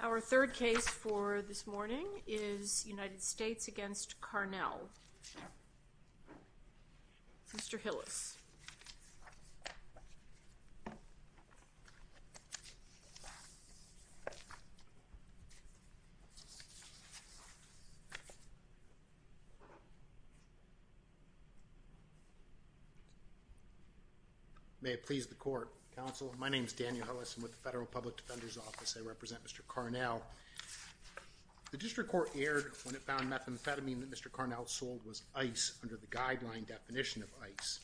Our third case for this morning is United States v. Carnell. Mr. Hillis. Daniel Hillis May it please the court. Counsel, my name is Daniel Hillis. I'm with the Federal Public Defender's Office. I represent Mr. Carnell. The district court erred when it found methamphetamine that Mr. Carnell sold was ice under the guideline definition of ice.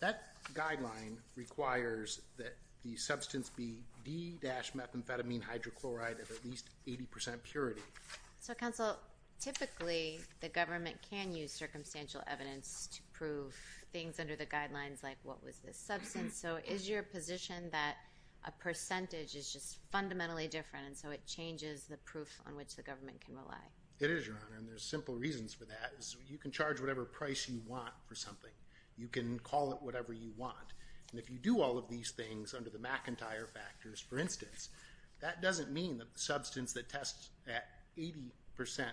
That guideline requires that the substance be D-methamphetamine hydrochloride at least 80% purity. So counsel, typically the government can use circumstantial evidence to prove things under the guidelines like what was this substance. So is your position that a percentage is just fundamentally different and so it changes the proof on which the government can rely? It is, Your Honor, and there's simple reasons for that. You can charge whatever price you want for something. You can call it whatever you want. And if you do all of these things under the McIntyre factors, for instance, that doesn't mean that the substance that tests at 50%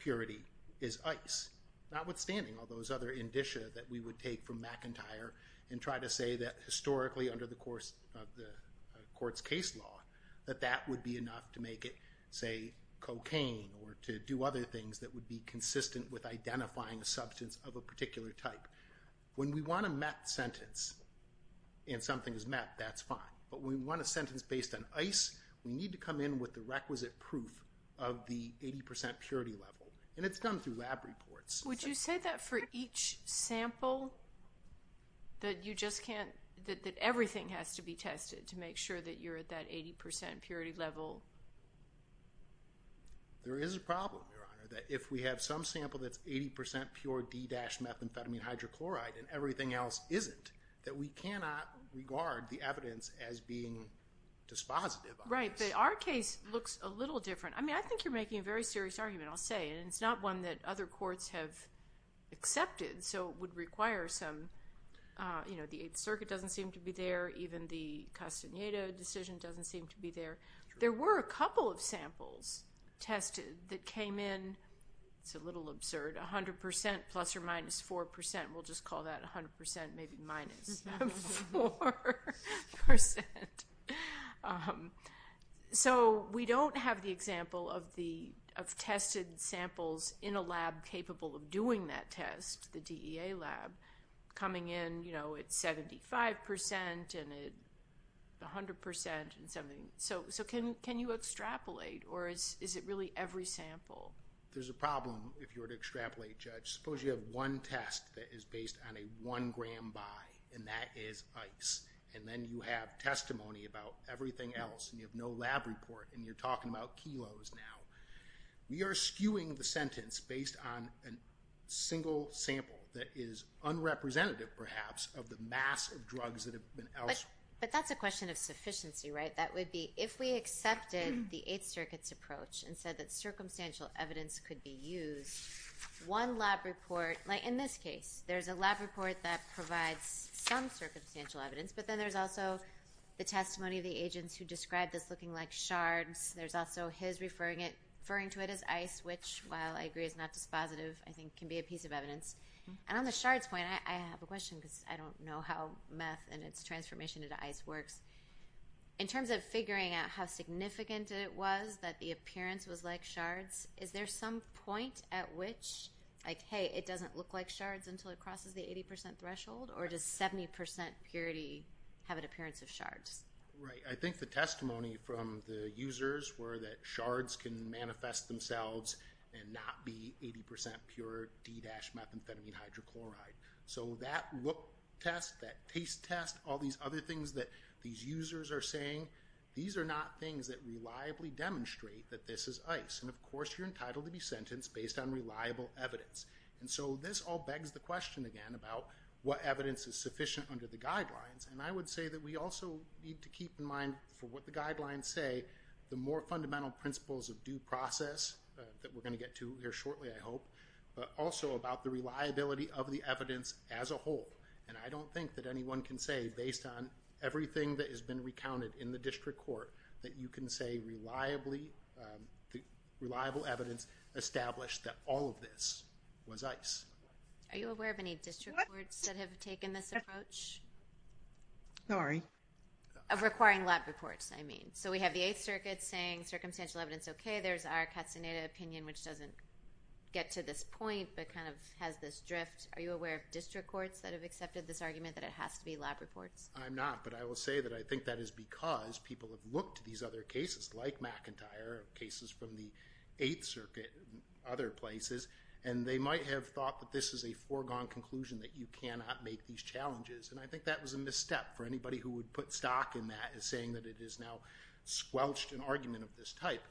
purity is ice. Notwithstanding all those other indicia that we would take from McIntyre and try to say that historically under the court's case law that that would be enough to make it, say, cocaine or to do other things that would be consistent with identifying a substance of a particular type. When we want a meth sentence and something is meth, that's fine. But when we want a sentence based on ice, we need to come in with the requisite proof of the 80% purity level. And it's done through lab reports. Would you say that for each sample that you just can't, that everything has to be tested to make sure that you're at that 80% purity level? There is a problem, Your Honor, that if we have some sample that's 80% pure D-methamphetamine hydrochloride and everything else isn't, that we cannot regard the evidence as being dispositive of this. Right, but our case looks a little different. I mean, I think you're making a very serious argument, I'll say. And it's not one that other courts have accepted, so it would require some, you know, the Eighth Circuit doesn't seem to be there. Even the Castaneda decision doesn't seem to be there. There were a couple of samples tested that came in, it's a little absurd, 100%, plus or minus 4%. We'll just call that 100%, maybe minus 4%. So we don't have the example of tested samples in a lab capable of doing that test, the DEA lab, coming in, you know, at 75% and at 100% and something. So can you extrapolate, or is it really every sample? There's a problem if you were to extrapolate, Judge. Suppose you have one test that is based on a one gram bi, and that is ice. And then you have testimony about everything else, and you have no lab report, and you're talking about kilos now. We are skewing the sentence based on a single sample that is unrepresentative, perhaps, of the mass of drugs that have been... But that's a question of sufficiency, right? That would be, if we accepted the Eighth Circuit's approach and said that circumstantial evidence could be used, one lab report, like in this case, there's a lab report that provides some circumstantial evidence, but then there's also the testimony of the agents who described this looking like shards. There's also his referring to it as ice, which, while I agree is not dispositive, I think can be a piece of evidence. And on the shards point, I have a question, because I don't know how meth and its transformation into ice works. In terms of figuring out how significant it was that the appearance was like shards, is there some point at which, like, hey, it doesn't look like shards until it crosses the 80% threshold, or does 70% purity have an appearance of shards? Right. I think the testimony from the users were that shards can manifest themselves and not be 80% pure D-methamphetamine hydrochloride. So that look test, that taste test, all these other things that these users are saying, these are not things that reliably demonstrate that this is ice. And, of course, you're entitled to be sentenced based on reliable evidence. And so this all begs the question again about what evidence is sufficient under the guidelines. And I would say that we also need to keep in mind, for what the guidelines say, the more fundamental principles of due process that we're going to get to here shortly, I hope, but also about the reliability of the evidence as a whole. And I don't think that anyone can say, based on everything that has been recounted in the district court, that you can say reliably, reliable evidence established that all of this was ice. Are you aware of any district courts that have taken this approach? Sorry. Of requiring lab reports, I mean. So we have the 8th Circuit saying circumstantial evidence, okay. There's our Castaneda opinion, which doesn't get to this point, but kind of has this drift. Are you aware of district courts that have accepted this argument that it has to be lab reports? I'm not, but I will say that I think that is because people have looked at these other cases, like McIntyre, cases from the 8th Circuit, other places, and they might have thought that this is a foregone conclusion, that you cannot make these challenges. And I think that was a misstep for anybody who would put stock in that, saying that it is now squelched, an argument of this type.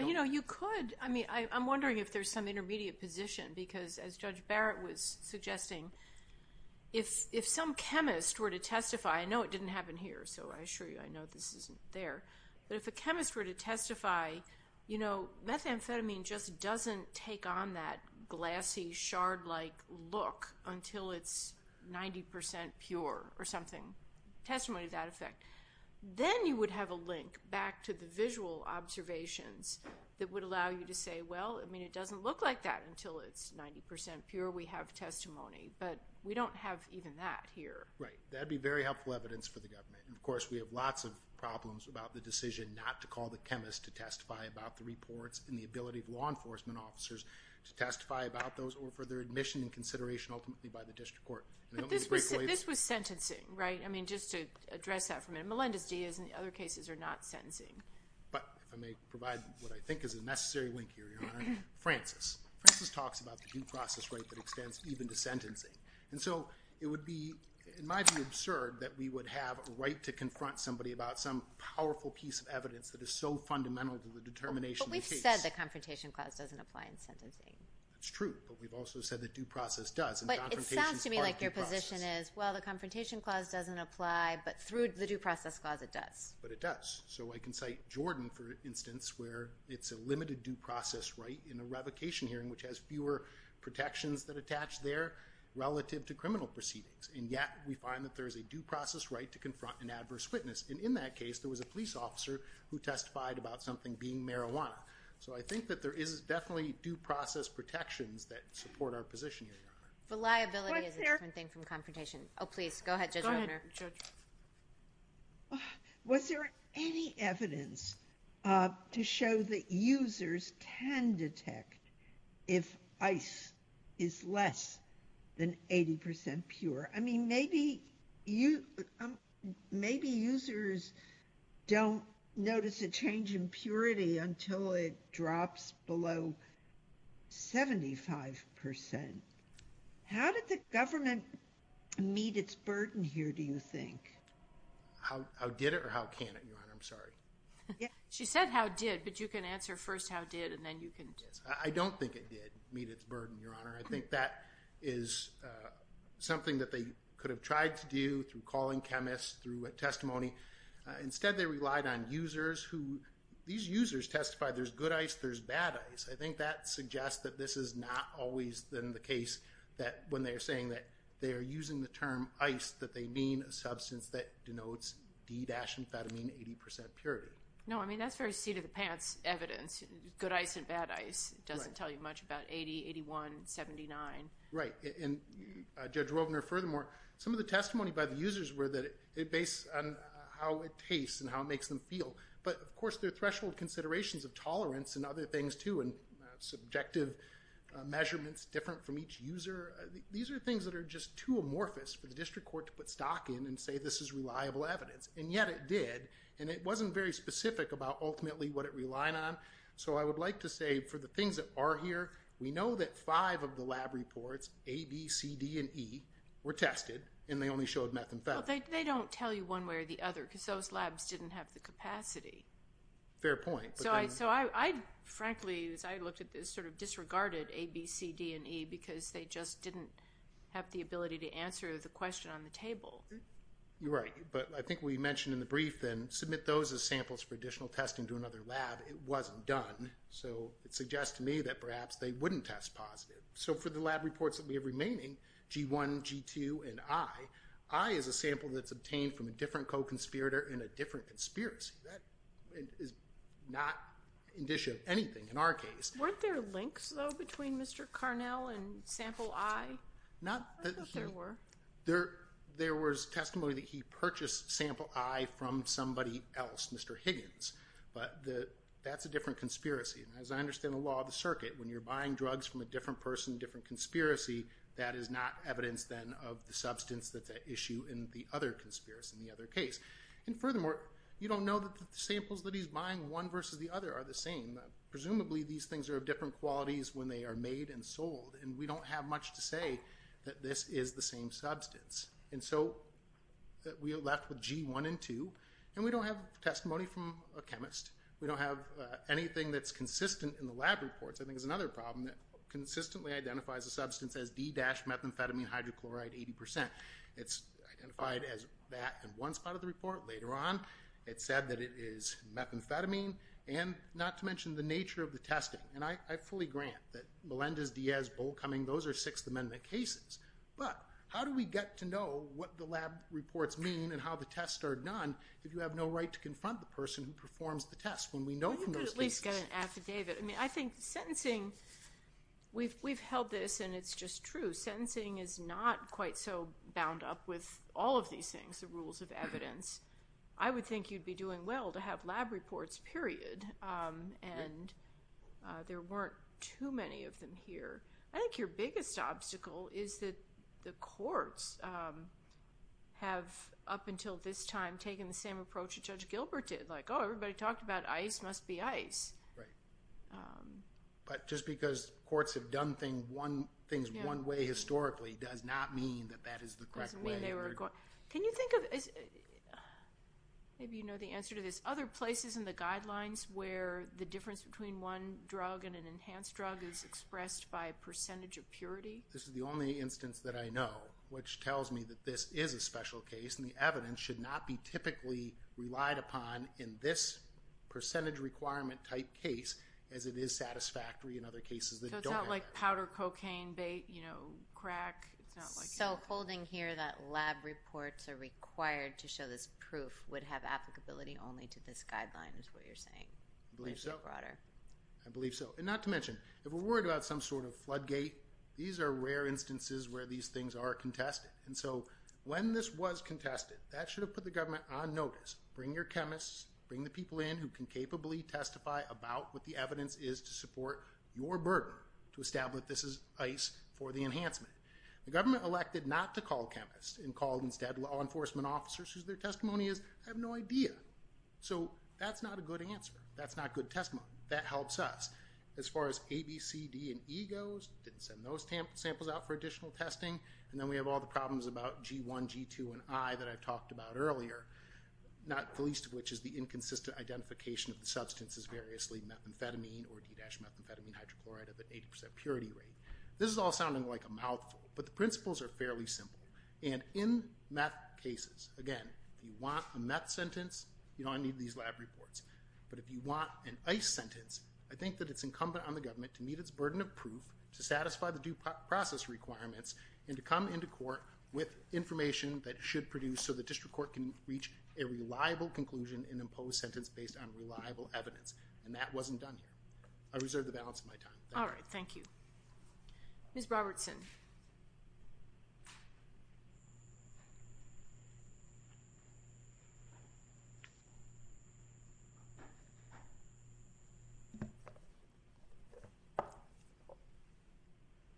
You know, you could. I mean, I'm wondering if there's some intermediate position, because as Judge Barrett was suggesting, if some chemist were to testify, I know it didn't happen here, so I assure you I know this isn't there, but if a chemist were to testify, you know, methamphetamine just doesn't take on that glassy, shard-like look until it's 90% pure or something. Testimony to that effect. Then you would have a link back to the visual observations that would allow you to say, well, I mean, it doesn't look like that until it's 90% pure. We have testimony, but we don't have even that here. Right. That would be very helpful evidence for the government. And of course, we have lots of problems about the decision not to call the chemist to testify about the reports and the ability of law enforcement officers to testify about those or for their admission and consideration ultimately by the district court. But this was sentencing, right? I mean, just to address that for a minute. Some cases and other cases are not sentencing. But if I may provide what I think is a necessary link here, Your Honor, Francis. Francis talks about the due process right that extends even to sentencing. And so it would be, it might be absurd that we would have a right to confront somebody about some powerful piece of evidence that is so fundamental to the determination of the case. But we've said the Confrontation Clause doesn't apply in sentencing. That's true, but we've also said that due process does. But it sounds to me like your position is, well, the Confrontation Clause doesn't apply, but through the Due Process Clause, it does. But it does. So I can cite Jordan, for instance, where it's a limited due process right in a revocation hearing which has fewer protections that attach there relative to criminal proceedings. And yet, we find that there is a due process right to confront an adverse witness. And in that case, there was a police officer who testified about something being marijuana. So I think that there is definitely due process protections that support our position here, Your Honor. Reliability is a different thing from confrontation. Oh, please, go ahead, Judge Romner. Was there any evidence to show that users can detect if ice is less than 80% pure? I mean, maybe users don't notice a change in purity until it drops below 75%. How did the government meet its burden here, do you think? How did it or how can it, Your Honor? I'm sorry. She said how did, but you can answer first how did, and then you can. I don't think it did meet its burden, Your Honor. I think that is something that they could have tried to do through calling chemists, through a testimony. Instead, they relied on users who, these users testified there's good ice, there's bad ice. I think that suggests that this is not always the case that when they're saying that they're using the term ice, that they mean a substance that denotes D-amphetamine 80% purity. No, I mean, that's very seat of the pants evidence, good ice and bad ice. It doesn't tell you much about 80, 81, 79. Right, and Judge Romner, furthermore, some of the testimony by the users were that it based on how it tastes and how it makes them feel. But, of course, there are threshold considerations of tolerance and other things, too, and subjective measurements different from each user. These are things that are just too amorphous for the district court to put stock in and say this is reliable evidence. And yet it did, and it wasn't very specific about ultimately what it relied on. So I would like to say for the things that are here, we know that five of the lab reports, A, B, C, D, and E, were tested, and they only showed methamphetamine. They don't tell you one way or the other because those labs didn't have the capacity. Fair point. So I, frankly, as I looked at this, sort of disregarded A, B, C, D, and E because they just didn't have the ability to answer the question on the table. You're right, but I think we mentioned in the brief then submit those as samples for additional testing to another lab. It wasn't done, so it suggests to me that perhaps they wouldn't test positive. So for the lab reports that we have remaining, G1, G2, and I, I is a sample that's obtained from a different co-conspirator in a different conspiracy. That is not indicia of anything in our case. Weren't there links, though, between Mr. Carnell and Sample I? I thought there were. There was testimony that he purchased Sample I from somebody else, Mr. Higgins, but that's a different conspiracy. And as I understand the law of the circuit, when you're buying drugs from a different person, a different conspiracy, that is not evidence then of the substance that's at issue in the other conspiracy, in the other case. And furthermore, you don't know that the samples that he's buying, one versus the other, are the same. Presumably these things are of different qualities when they are made and sold, and we don't have much to say that this is the same substance. And so we are left with G1 and 2, and we don't have testimony from a chemist. We don't have anything that's consistent in the lab reports. I think there's another problem that consistently identifies a substance as D-methamphetamine hydrochloride 80%. It's identified as that in one spot of the report, later on. It's said that it is methamphetamine, and not to mention the nature of the testing. And I fully grant that Melendez-Diaz, Bohl, Cumming, those are Sixth Amendment cases. But how do we get to know what the lab reports mean and how the tests are done if you have no right to confront the person who performs the test when we know from those cases? We could at least get an affidavit. I mean, I think sentencing, we've held this and it's just true. Sentencing is not quite so bound up with all of these things, the rules of evidence. I would think you'd be doing well to have lab reports, period. And there weren't too many of them here. I think your biggest obstacle is that the courts have, up until this time, taken the same approach that Judge Gilbert did. Like, oh, everybody talked about ICE must be ICE. But just because courts have done things one way historically does not mean that that is the correct way. Can you think of, maybe you know the answer to this, other places in the guidelines where the difference between one drug and an enhanced drug is expressed by a percentage of purity? This is the only instance that I know which tells me that this is a special case. And the evidence should not be typically relied upon in this percentage requirement type case as it is satisfactory in other cases that don't have that. So it's not like powder cocaine bait, you know, crack. So holding here that lab reports are required to show this proof would have applicability only to this guideline is what you're saying? I believe so. And not to mention, if we're worried about some sort of floodgate, these are rare instances where these things are contested. And so when this was contested, that should have put the government on notice. Bring your chemists, bring the people in who can capably testify about what the evidence is to support your burden to establish this is ICE for the enhancement. The government elected not to call chemists and called instead law enforcement officers whose their testimony is, I have no idea. So that's not a good answer. That's not good testimony. That helps us. As far as A, B, C, D, and E goes, didn't send those samples out for additional testing. And then we have all the problems about G1, G2, and I that I talked about earlier. Not the least of which is the inconsistent identification of the substance as variously methamphetamine or D-methamphetamine hydrochloride of an 80% purity rate. This is all sounding like a mouthful, but the principles are fairly simple. And in meth cases, again, if you want a meth sentence, you don't need these lab reports. But if you want an ICE sentence, I think that it's incumbent on the government to meet its burden of proof to satisfy the due process requirements and to come into court with information that should produce so the district court can reach a reliable conclusion and impose sentence based on reliable evidence. And that wasn't done here. I reserve the balance of my time. All right. Thank you. Ms. Robertson.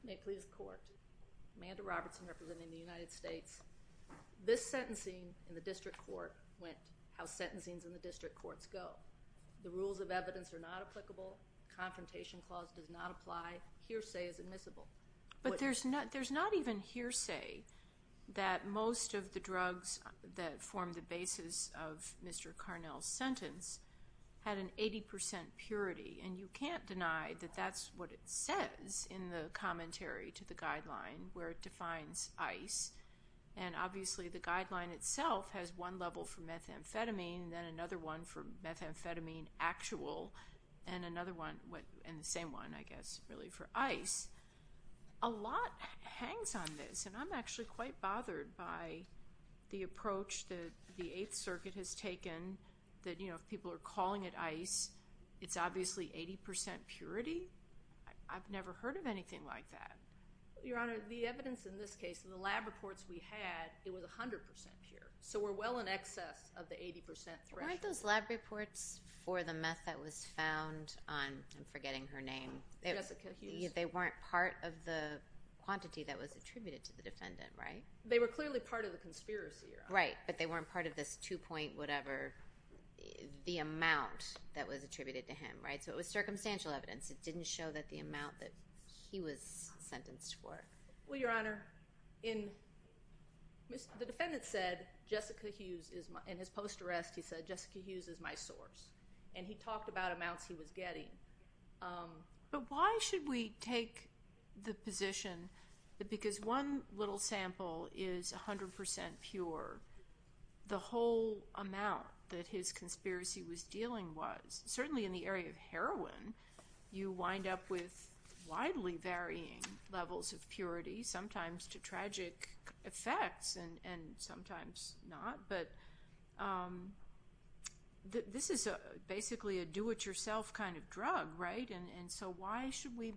May it please the court. Thank you. Amanda Robertson representing the United States. This sentencing in the district court went how sentencings in the district courts go. The rules of evidence are not applicable. Confrontation clause does not apply. Hearsay is admissible. But there's not even hearsay that most of the drugs that form the basis of Mr. Carnell's sentence had an 80% purity. And you can't deny that that's what it says in the commentary to the guideline where it defines ICE. And obviously the guideline itself has one level for methamphetamine, then another one for methamphetamine actual, and another one, and the same one, I guess, really, for ICE. A lot hangs on this. And I'm actually quite bothered by the approach that the Eighth Circuit has taken that, you know, if people are calling it ICE, it's obviously 80% purity. I've never heard of anything like that. Your Honor, the evidence in this case, the lab reports we had, it was 100% pure. So we're well in excess of the 80% threshold. Weren't those lab reports for the meth that was found on, I'm forgetting her name. Jessica Hughes. They weren't part of the quantity that was attributed to the defendant, right? They were clearly part of the conspiracy, Your Honor. Right, but they weren't part of this two-point whatever, the amount that was attributed to him, right? So it was circumstantial evidence. It didn't show that the amount that he was sentenced for. Well, Your Honor, the defendant said, Jessica Hughes, in his post-arrest, he said, Jessica Hughes is my source. And he talked about amounts he was getting. But why should we take the position that because one little sample is 100% pure, the whole amount that his conspiracy was dealing was? Certainly in the area of heroin, you wind up with widely varying levels of purity, sometimes to tragic effects and sometimes not. But this is basically a do-it-yourself kind of drug, right? And so why should we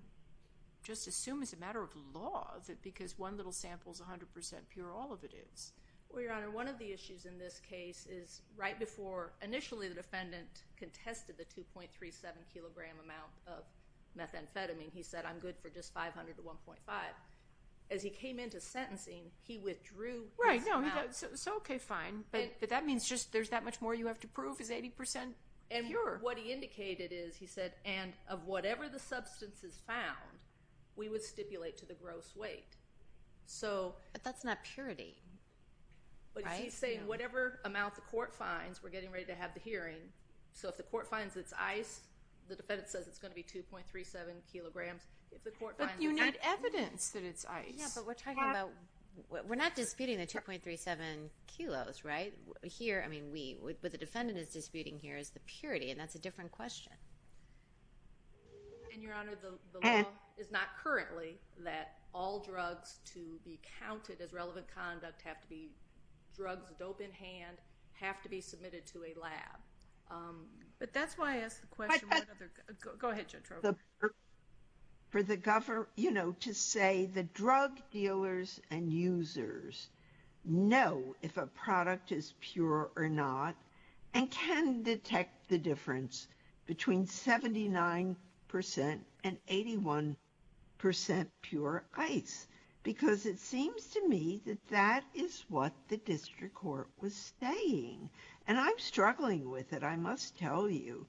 just assume it's a matter of law that because one little sample is 100% pure, all of it is? Well, Your Honor, one of the issues in this case is right before initially the defendant contested the 2.37 kilogram amount of methamphetamine, he said, I'm good for just 500 to 1.5. As he came into sentencing, he withdrew his amount. Right, so okay, fine. But that means there's that much more you have to prove is 80% pure? And what he indicated is, he said, and of whatever the substance is found, we would stipulate to the gross weight. But that's not purity, right? But he's saying whatever amount the court finds, we're getting ready to have the hearing. So if the court finds it's ice, the defendant says it's going to be 2.37 kilograms. But you need evidence that it's ice. Yeah, but we're talking about, we're not disputing the 2.37 kilos, right? Here, I mean, what the defendant is disputing here is the purity, and that's a different question. And, Your Honor, the law is not currently that all drugs to be counted as relevant conduct have to be drugs, dope in hand, have to be submitted to a lab. But that's why I asked the question. Go ahead, Judge Trober. For the government, you know, to say the drug dealers and users know if a product is pure or not, and can detect the difference between 79% and 81% pure ice. Because it seems to me that that is what the district court was saying. And I'm struggling with it, I must tell you.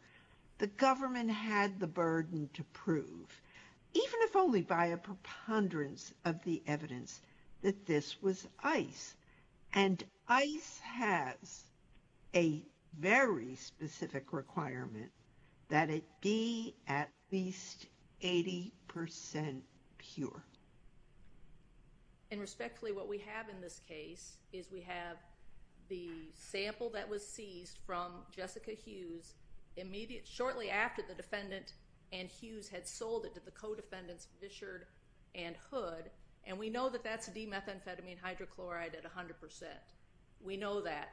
The government had the burden to prove, even if only by a preponderance of the evidence, that this was ice. And ice has a very specific requirement that it be at least 80% pure. And respectfully, what we have in this case is we have the sample that was seized from Jessica Hughes shortly after the defendant and Hughes had sold it to the co-defendants, Fishard and Hood, and we know that that's demethamphetamine hydrochloride at 100%. We know that.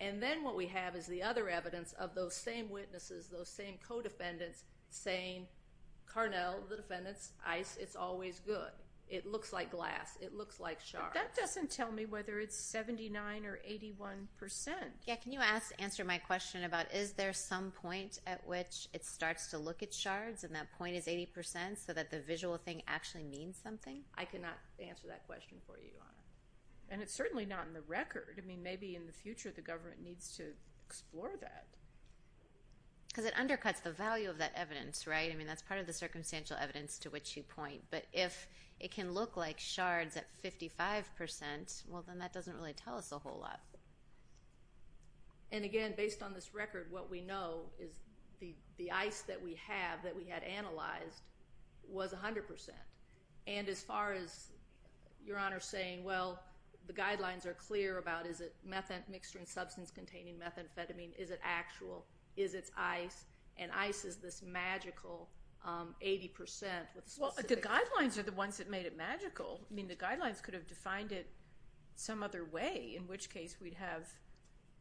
And then what we have is the other evidence of those same witnesses, those same co-defendants, saying, Carnell, the defendants, ice, it's always good. It looks like glass. It looks like shards. But that doesn't tell me whether it's 79% or 81%. Yeah, can you answer my question about is there some point at which it starts to look at shards and that point is 80% so that the visual thing actually means something? I cannot answer that question for you, Your Honor. And it's certainly not in the record. I mean, maybe in the future the government needs to explore that. Because it undercuts the value of that evidence, right? I mean, that's part of the circumstantial evidence to which you point. But if it can look like shards at 55%, well, then that doesn't really tell us a whole lot. And again, based on this record, what we know is the ice that we have that we had analyzed was 100%. And as far as Your Honor saying, well, the guidelines are clear about is it mixture and substance containing methamphetamine, is it actual, is it ice, and ice is this magical 80% with specific… Well, the guidelines are the ones that made it magical. I mean, the guidelines could have defined it some other way in which case we'd have,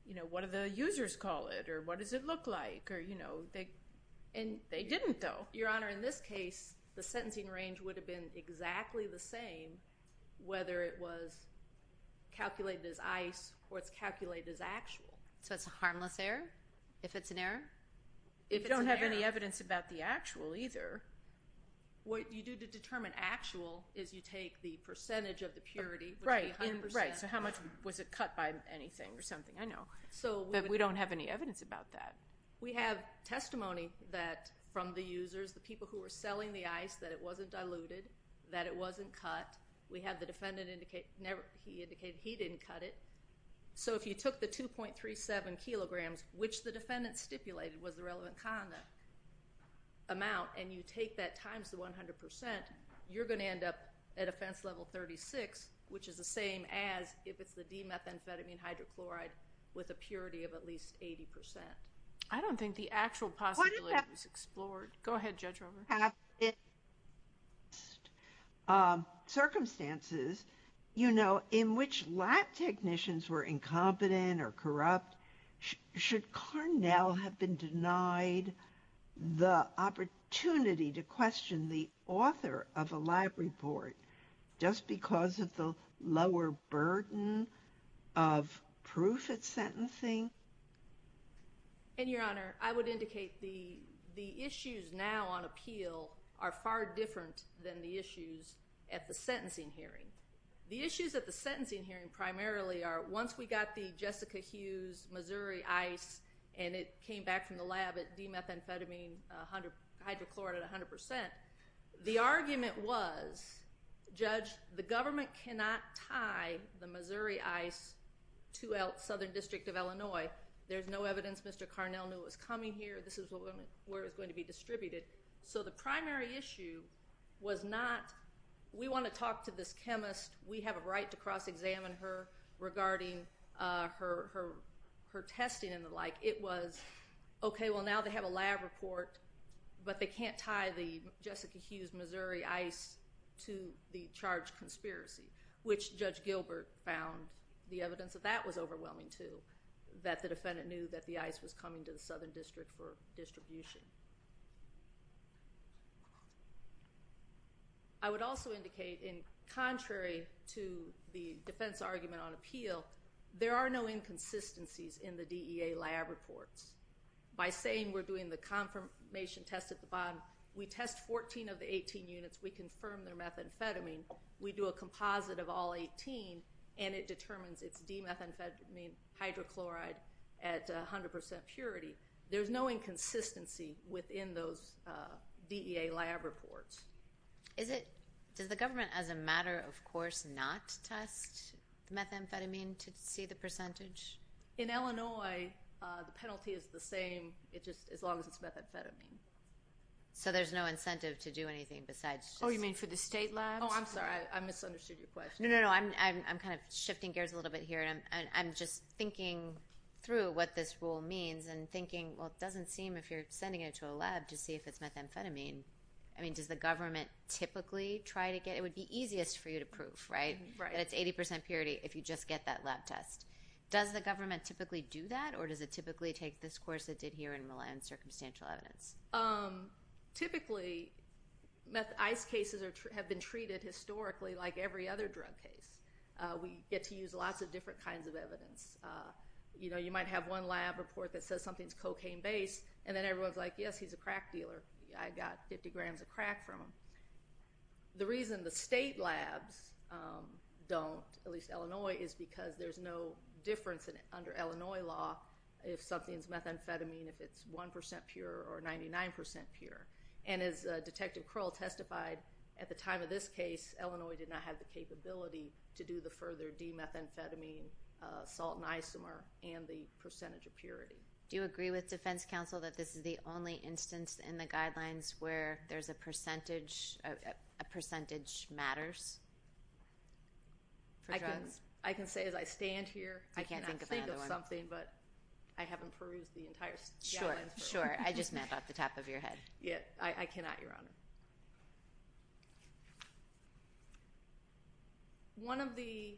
you know, what do the users call it or what does it look like or, you know, they didn't though. Your Honor, in this case, the sentencing range would have been exactly the same whether it was calculated as ice or it's calculated as actual. So it's a harmless error if it's an error? If you don't have any evidence about the actual either, what you do to determine actual is you take the percentage of the purity… Right, right. So how much was it cut by anything or something? I know. But we don't have any evidence about that. We have testimony that from the users, the people who were selling the ice, that it wasn't diluted, that it wasn't cut. We have the defendant indicate he didn't cut it. So if you took the 2.37 kilograms, which the defendant stipulated was the relevant amount, and you take that times the 100 percent, you're going to end up at offense level 36, which is the same as if it's the D-methamphetamine hydrochloride with a purity of at least 80 percent. I don't think the actual possibility was explored. Go ahead, Judge Rover. Under past circumstances, you know, in which lab technicians were incompetent or corrupt, should Carnell have been denied the opportunity to question the author of a lab report just because of the lower burden of proof at sentencing? And, Your Honor, I would indicate the issues now on appeal are far different than the issues at the sentencing hearing. The issues at the sentencing hearing primarily are, once we got the Jessica Hughes Missouri ice, and it came back from the lab at D-methamphetamine hydrochloride at 100 percent, the argument was, Judge, the government cannot tie the Missouri ice to Southern District of Illinois. There's no evidence Mr. Carnell knew it was coming here. This is where it was going to be distributed. The primary issue was not, we want to talk to this chemist, we have a right to cross-examine her regarding her testing and the like. It was, okay, well, now they have a lab report, but they can't tie the Jessica Hughes Missouri ice to the charged conspiracy, which Judge Gilbert found the evidence of that was overwhelming, too, that the defendant knew that the ice was coming to the Southern District for distribution. I would also indicate, contrary to the defense argument on appeal, there are no inconsistencies in the DEA lab reports. By saying we're doing the confirmation test at the bottom, we test 14 of the 18 units, we confirm their methamphetamine, we do a composite of all 18, and it determines it's D-methamphetamine hydrochloride at 100 percent purity. There's no inconsistency within those DEA lab reports. Does the government, as a matter of course, not test methamphetamine to see the percentage? In Illinois, the penalty is the same as long as it's methamphetamine. So there's no incentive to do anything besides... Oh, you mean for the state labs? Oh, I'm sorry, I misunderstood your question. No, no, no, I'm kind of shifting gears a little bit here, and I'm just thinking through what this rule means and thinking, well, it doesn't seem, if you're sending it to a lab, to see if it's methamphetamine. I mean, does the government typically try to get... It would be easiest for you to prove, right, that it's 80 percent purity if you just get that lab test. Does the government typically do that, or does it typically take this course it did here and rely on circumstantial evidence? Typically, ice cases have been treated historically like every other drug case. We get to use lots of different kinds of evidence. You know, you might have one lab report that says something's cocaine-based, and then everyone's like, yes, he's a crack dealer. I got 50 grams of crack from him. The reason the state labs don't, at least Illinois, is because there's no difference under Illinois law if something's methamphetamine, if it's 1 percent pure or 99 percent pure. And as Detective Krull testified, at the time of this case, Illinois did not have the capability to do the further demethamphetamine, salt and isomer, and the percentage of purity. Do you agree with defense counsel that this is the only instance in the guidelines where there's a percentage, a percentage matters for drugs? I can say as I stand here, I cannot think of something, but I haven't perused the entire guidelines. Sure, sure. I just mapped out the top of your head. Yeah, I cannot, Your Honor. One of the,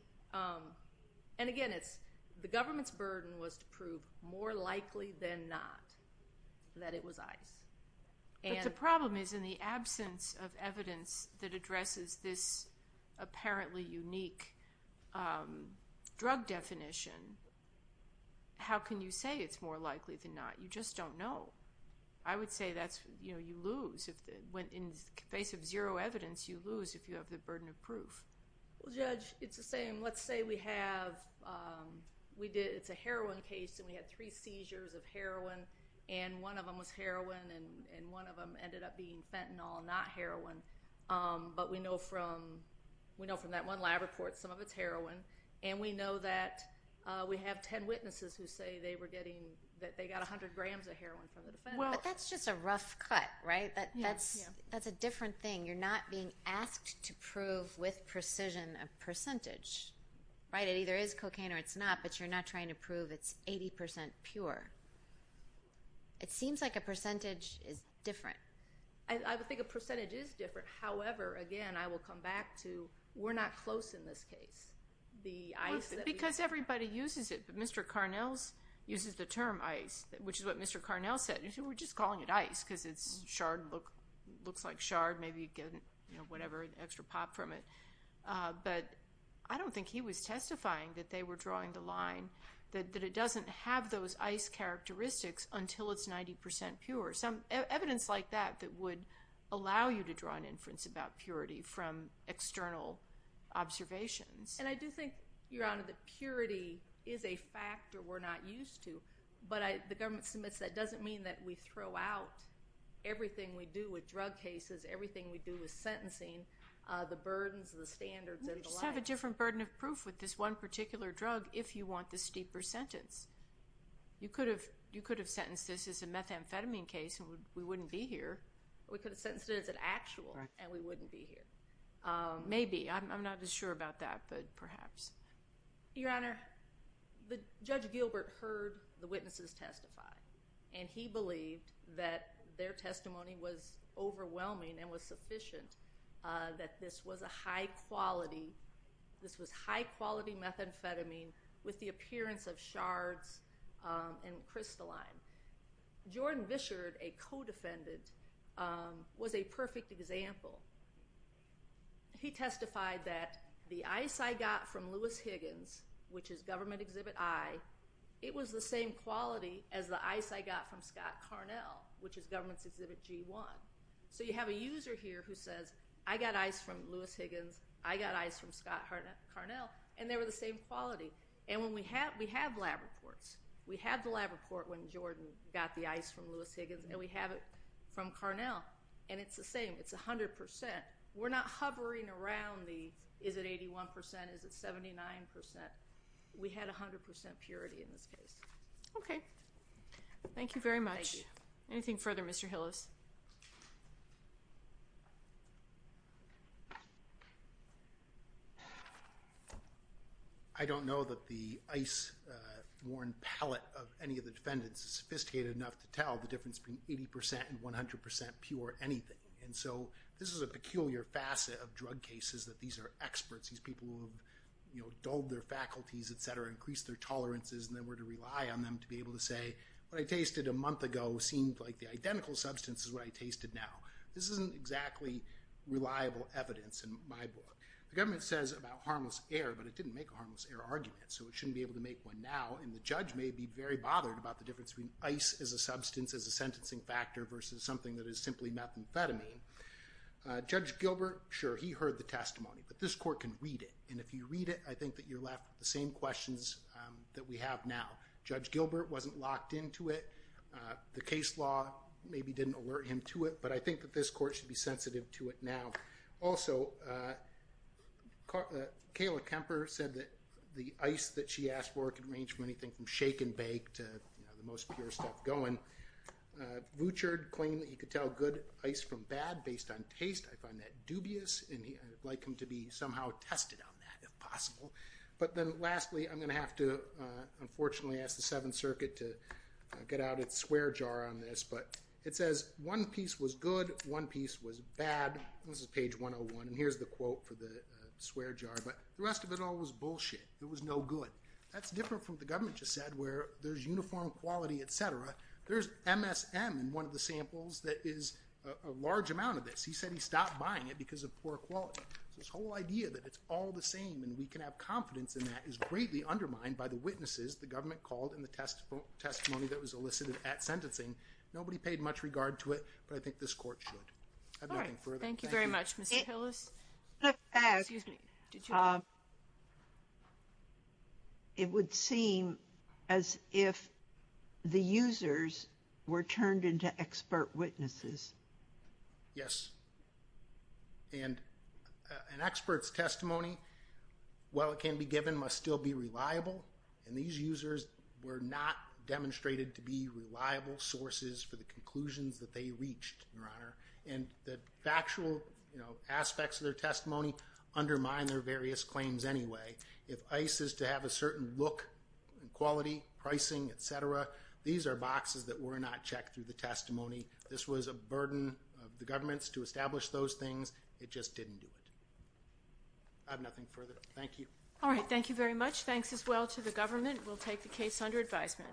and again, it's, the government's burden was to prove more likely than not that it was ice. But the problem is in the absence of evidence that addresses this apparently unique drug definition, how can you say it's more likely than not? You just don't know. I would say that's, you know, you lose when in the face of zero evidence, you lose if you have the burden of proof. Well, Judge, it's the same. Let's say we have, we did, it's a heroin case, and we had three seizures of heroin, and one of them was heroin, and one of them ended up being fentanyl, not heroin. But we know from, we know from that one lab report, some of it's heroin. And we know that we have 10 witnesses who say they were getting, that they got 100 grams of heroin from the defendant. But that's just a rough cut, right? That's a different thing. You're not being asked to prove with precision a percentage, right? It either is cocaine or it's not, but you're not trying to prove it's 80% pure. It seems like a percentage is different. I would think a percentage is different. However, again, I will come back to, we're not close in this case. The ice that we have. Well, because everybody uses it. Mr. Carnell uses the term ice, which is what Mr. Carnell said. We're just calling it ice because it's shard, looks like shard. Maybe you get, you know, whatever, an extra pop from it. But I don't think he was testifying that they were drawing the line that it doesn't have those ice characteristics until it's 90% pure. Some evidence like that that would allow you to draw an inference about purity from external observations. And I do think, Your Honor, that purity is a factor we're not used to. And if the government submits, that doesn't mean that we throw out everything we do with drug cases, everything we do with sentencing, the burdens, the standards, and the like. We just have a different burden of proof with this one particular drug if you want the steeper sentence. You could have sentenced this as a methamphetamine case and we wouldn't be here. We could have sentenced it as an actual and we wouldn't be here. Maybe. I'm not as sure about that, but perhaps. Your Honor, Judge Gilbert heard the witnesses testify. And he believed that their testimony was overwhelming and was sufficient, that this was a high-quality, this was high-quality methamphetamine with the appearance of shards and crystalline. Jordan Bishard, a co-defendant, was a perfect example. He testified that the ice I got from Lewis Higgins, which is Government Exhibit I, it was the same quality as the ice I got from Scott Carnell, which is Government Exhibit G1. So you have a user here who says, I got ice from Lewis Higgins, I got ice from Scott Carnell, and they were the same quality. And we have lab reports. We had the lab report when Jordan got the ice from Lewis Higgins, and we have it from Carnell. And it's the same. It's 100%. We're not hovering around the is it 81%, is it 79%. We had 100% purity in this case. Okay. Thank you very much. Thank you. Anything further, Mr. Hillis? I don't know that the ice-worn palette of any of the defendants is sophisticated enough to tell the difference between 80% and 100% pure anything. And so this is a peculiar facet of drug cases where these experts, these people who have dulled their faculties, et cetera, increased their tolerances, and they were to rely on them to be able to say, what I tasted a month ago seemed like the identical substance as what I tasted now. This isn't exactly reliable evidence in my book. The government says about harmless air, but it didn't make a harmless air argument, so it shouldn't be able to make one now. And the judge may be very bothered about the difference between ice as a substance, as a sentencing factor, but the court can read it. And if you read it, I think that you're left with the same questions that we have now. Judge Gilbert wasn't locked into it. The case law maybe didn't alert him to it, but I think that this court should be sensitive to it now. Also, Kayla Kemper said that the ice that she asked for could range from anything from shake and bake to the most pure stuff going. Vuchard claimed that he could tell good ice from bad based on taste. I find that dubious, and I would test it on that if possible. But then lastly, I'm going to have to unfortunately ask the Seventh Circuit to get out its swear jar on this, but it says one piece was good, one piece was bad. This is page 101, and here's the quote for the swear jar. But the rest of it all was bullshit. It was no good. That's different from what the government just said where there's uniform quality, et cetera. There's MSM in one of the samples that is a large amount of this. It's all the same, and we can have confidence in that. It's greatly undermined by the witnesses the government called in the testimony that was elicited at sentencing. Nobody paid much regard to it, but I think this court should. I have nothing further. Thank you. All right. Thank you very much, Mr. Hillis. Excuse me. It would seem as if the users were turned into expert witnesses. Yes. And an expert's testimony, while it can be given, must still be reliable, and these users were not demonstrated to be reliable sources for the conclusions that they reached, Your Honor, and the factual aspects of their testimony undermine their various claims anyway. If ICE is to have a certain look and quality, pricing, et cetera, these are boxes that were not checked through the testimony. This was a burden of the government to establish those things. It just didn't do it. I have nothing further. Thank you. All right. Thank you very much. Thanks as well to the government. We'll take the case under advisement.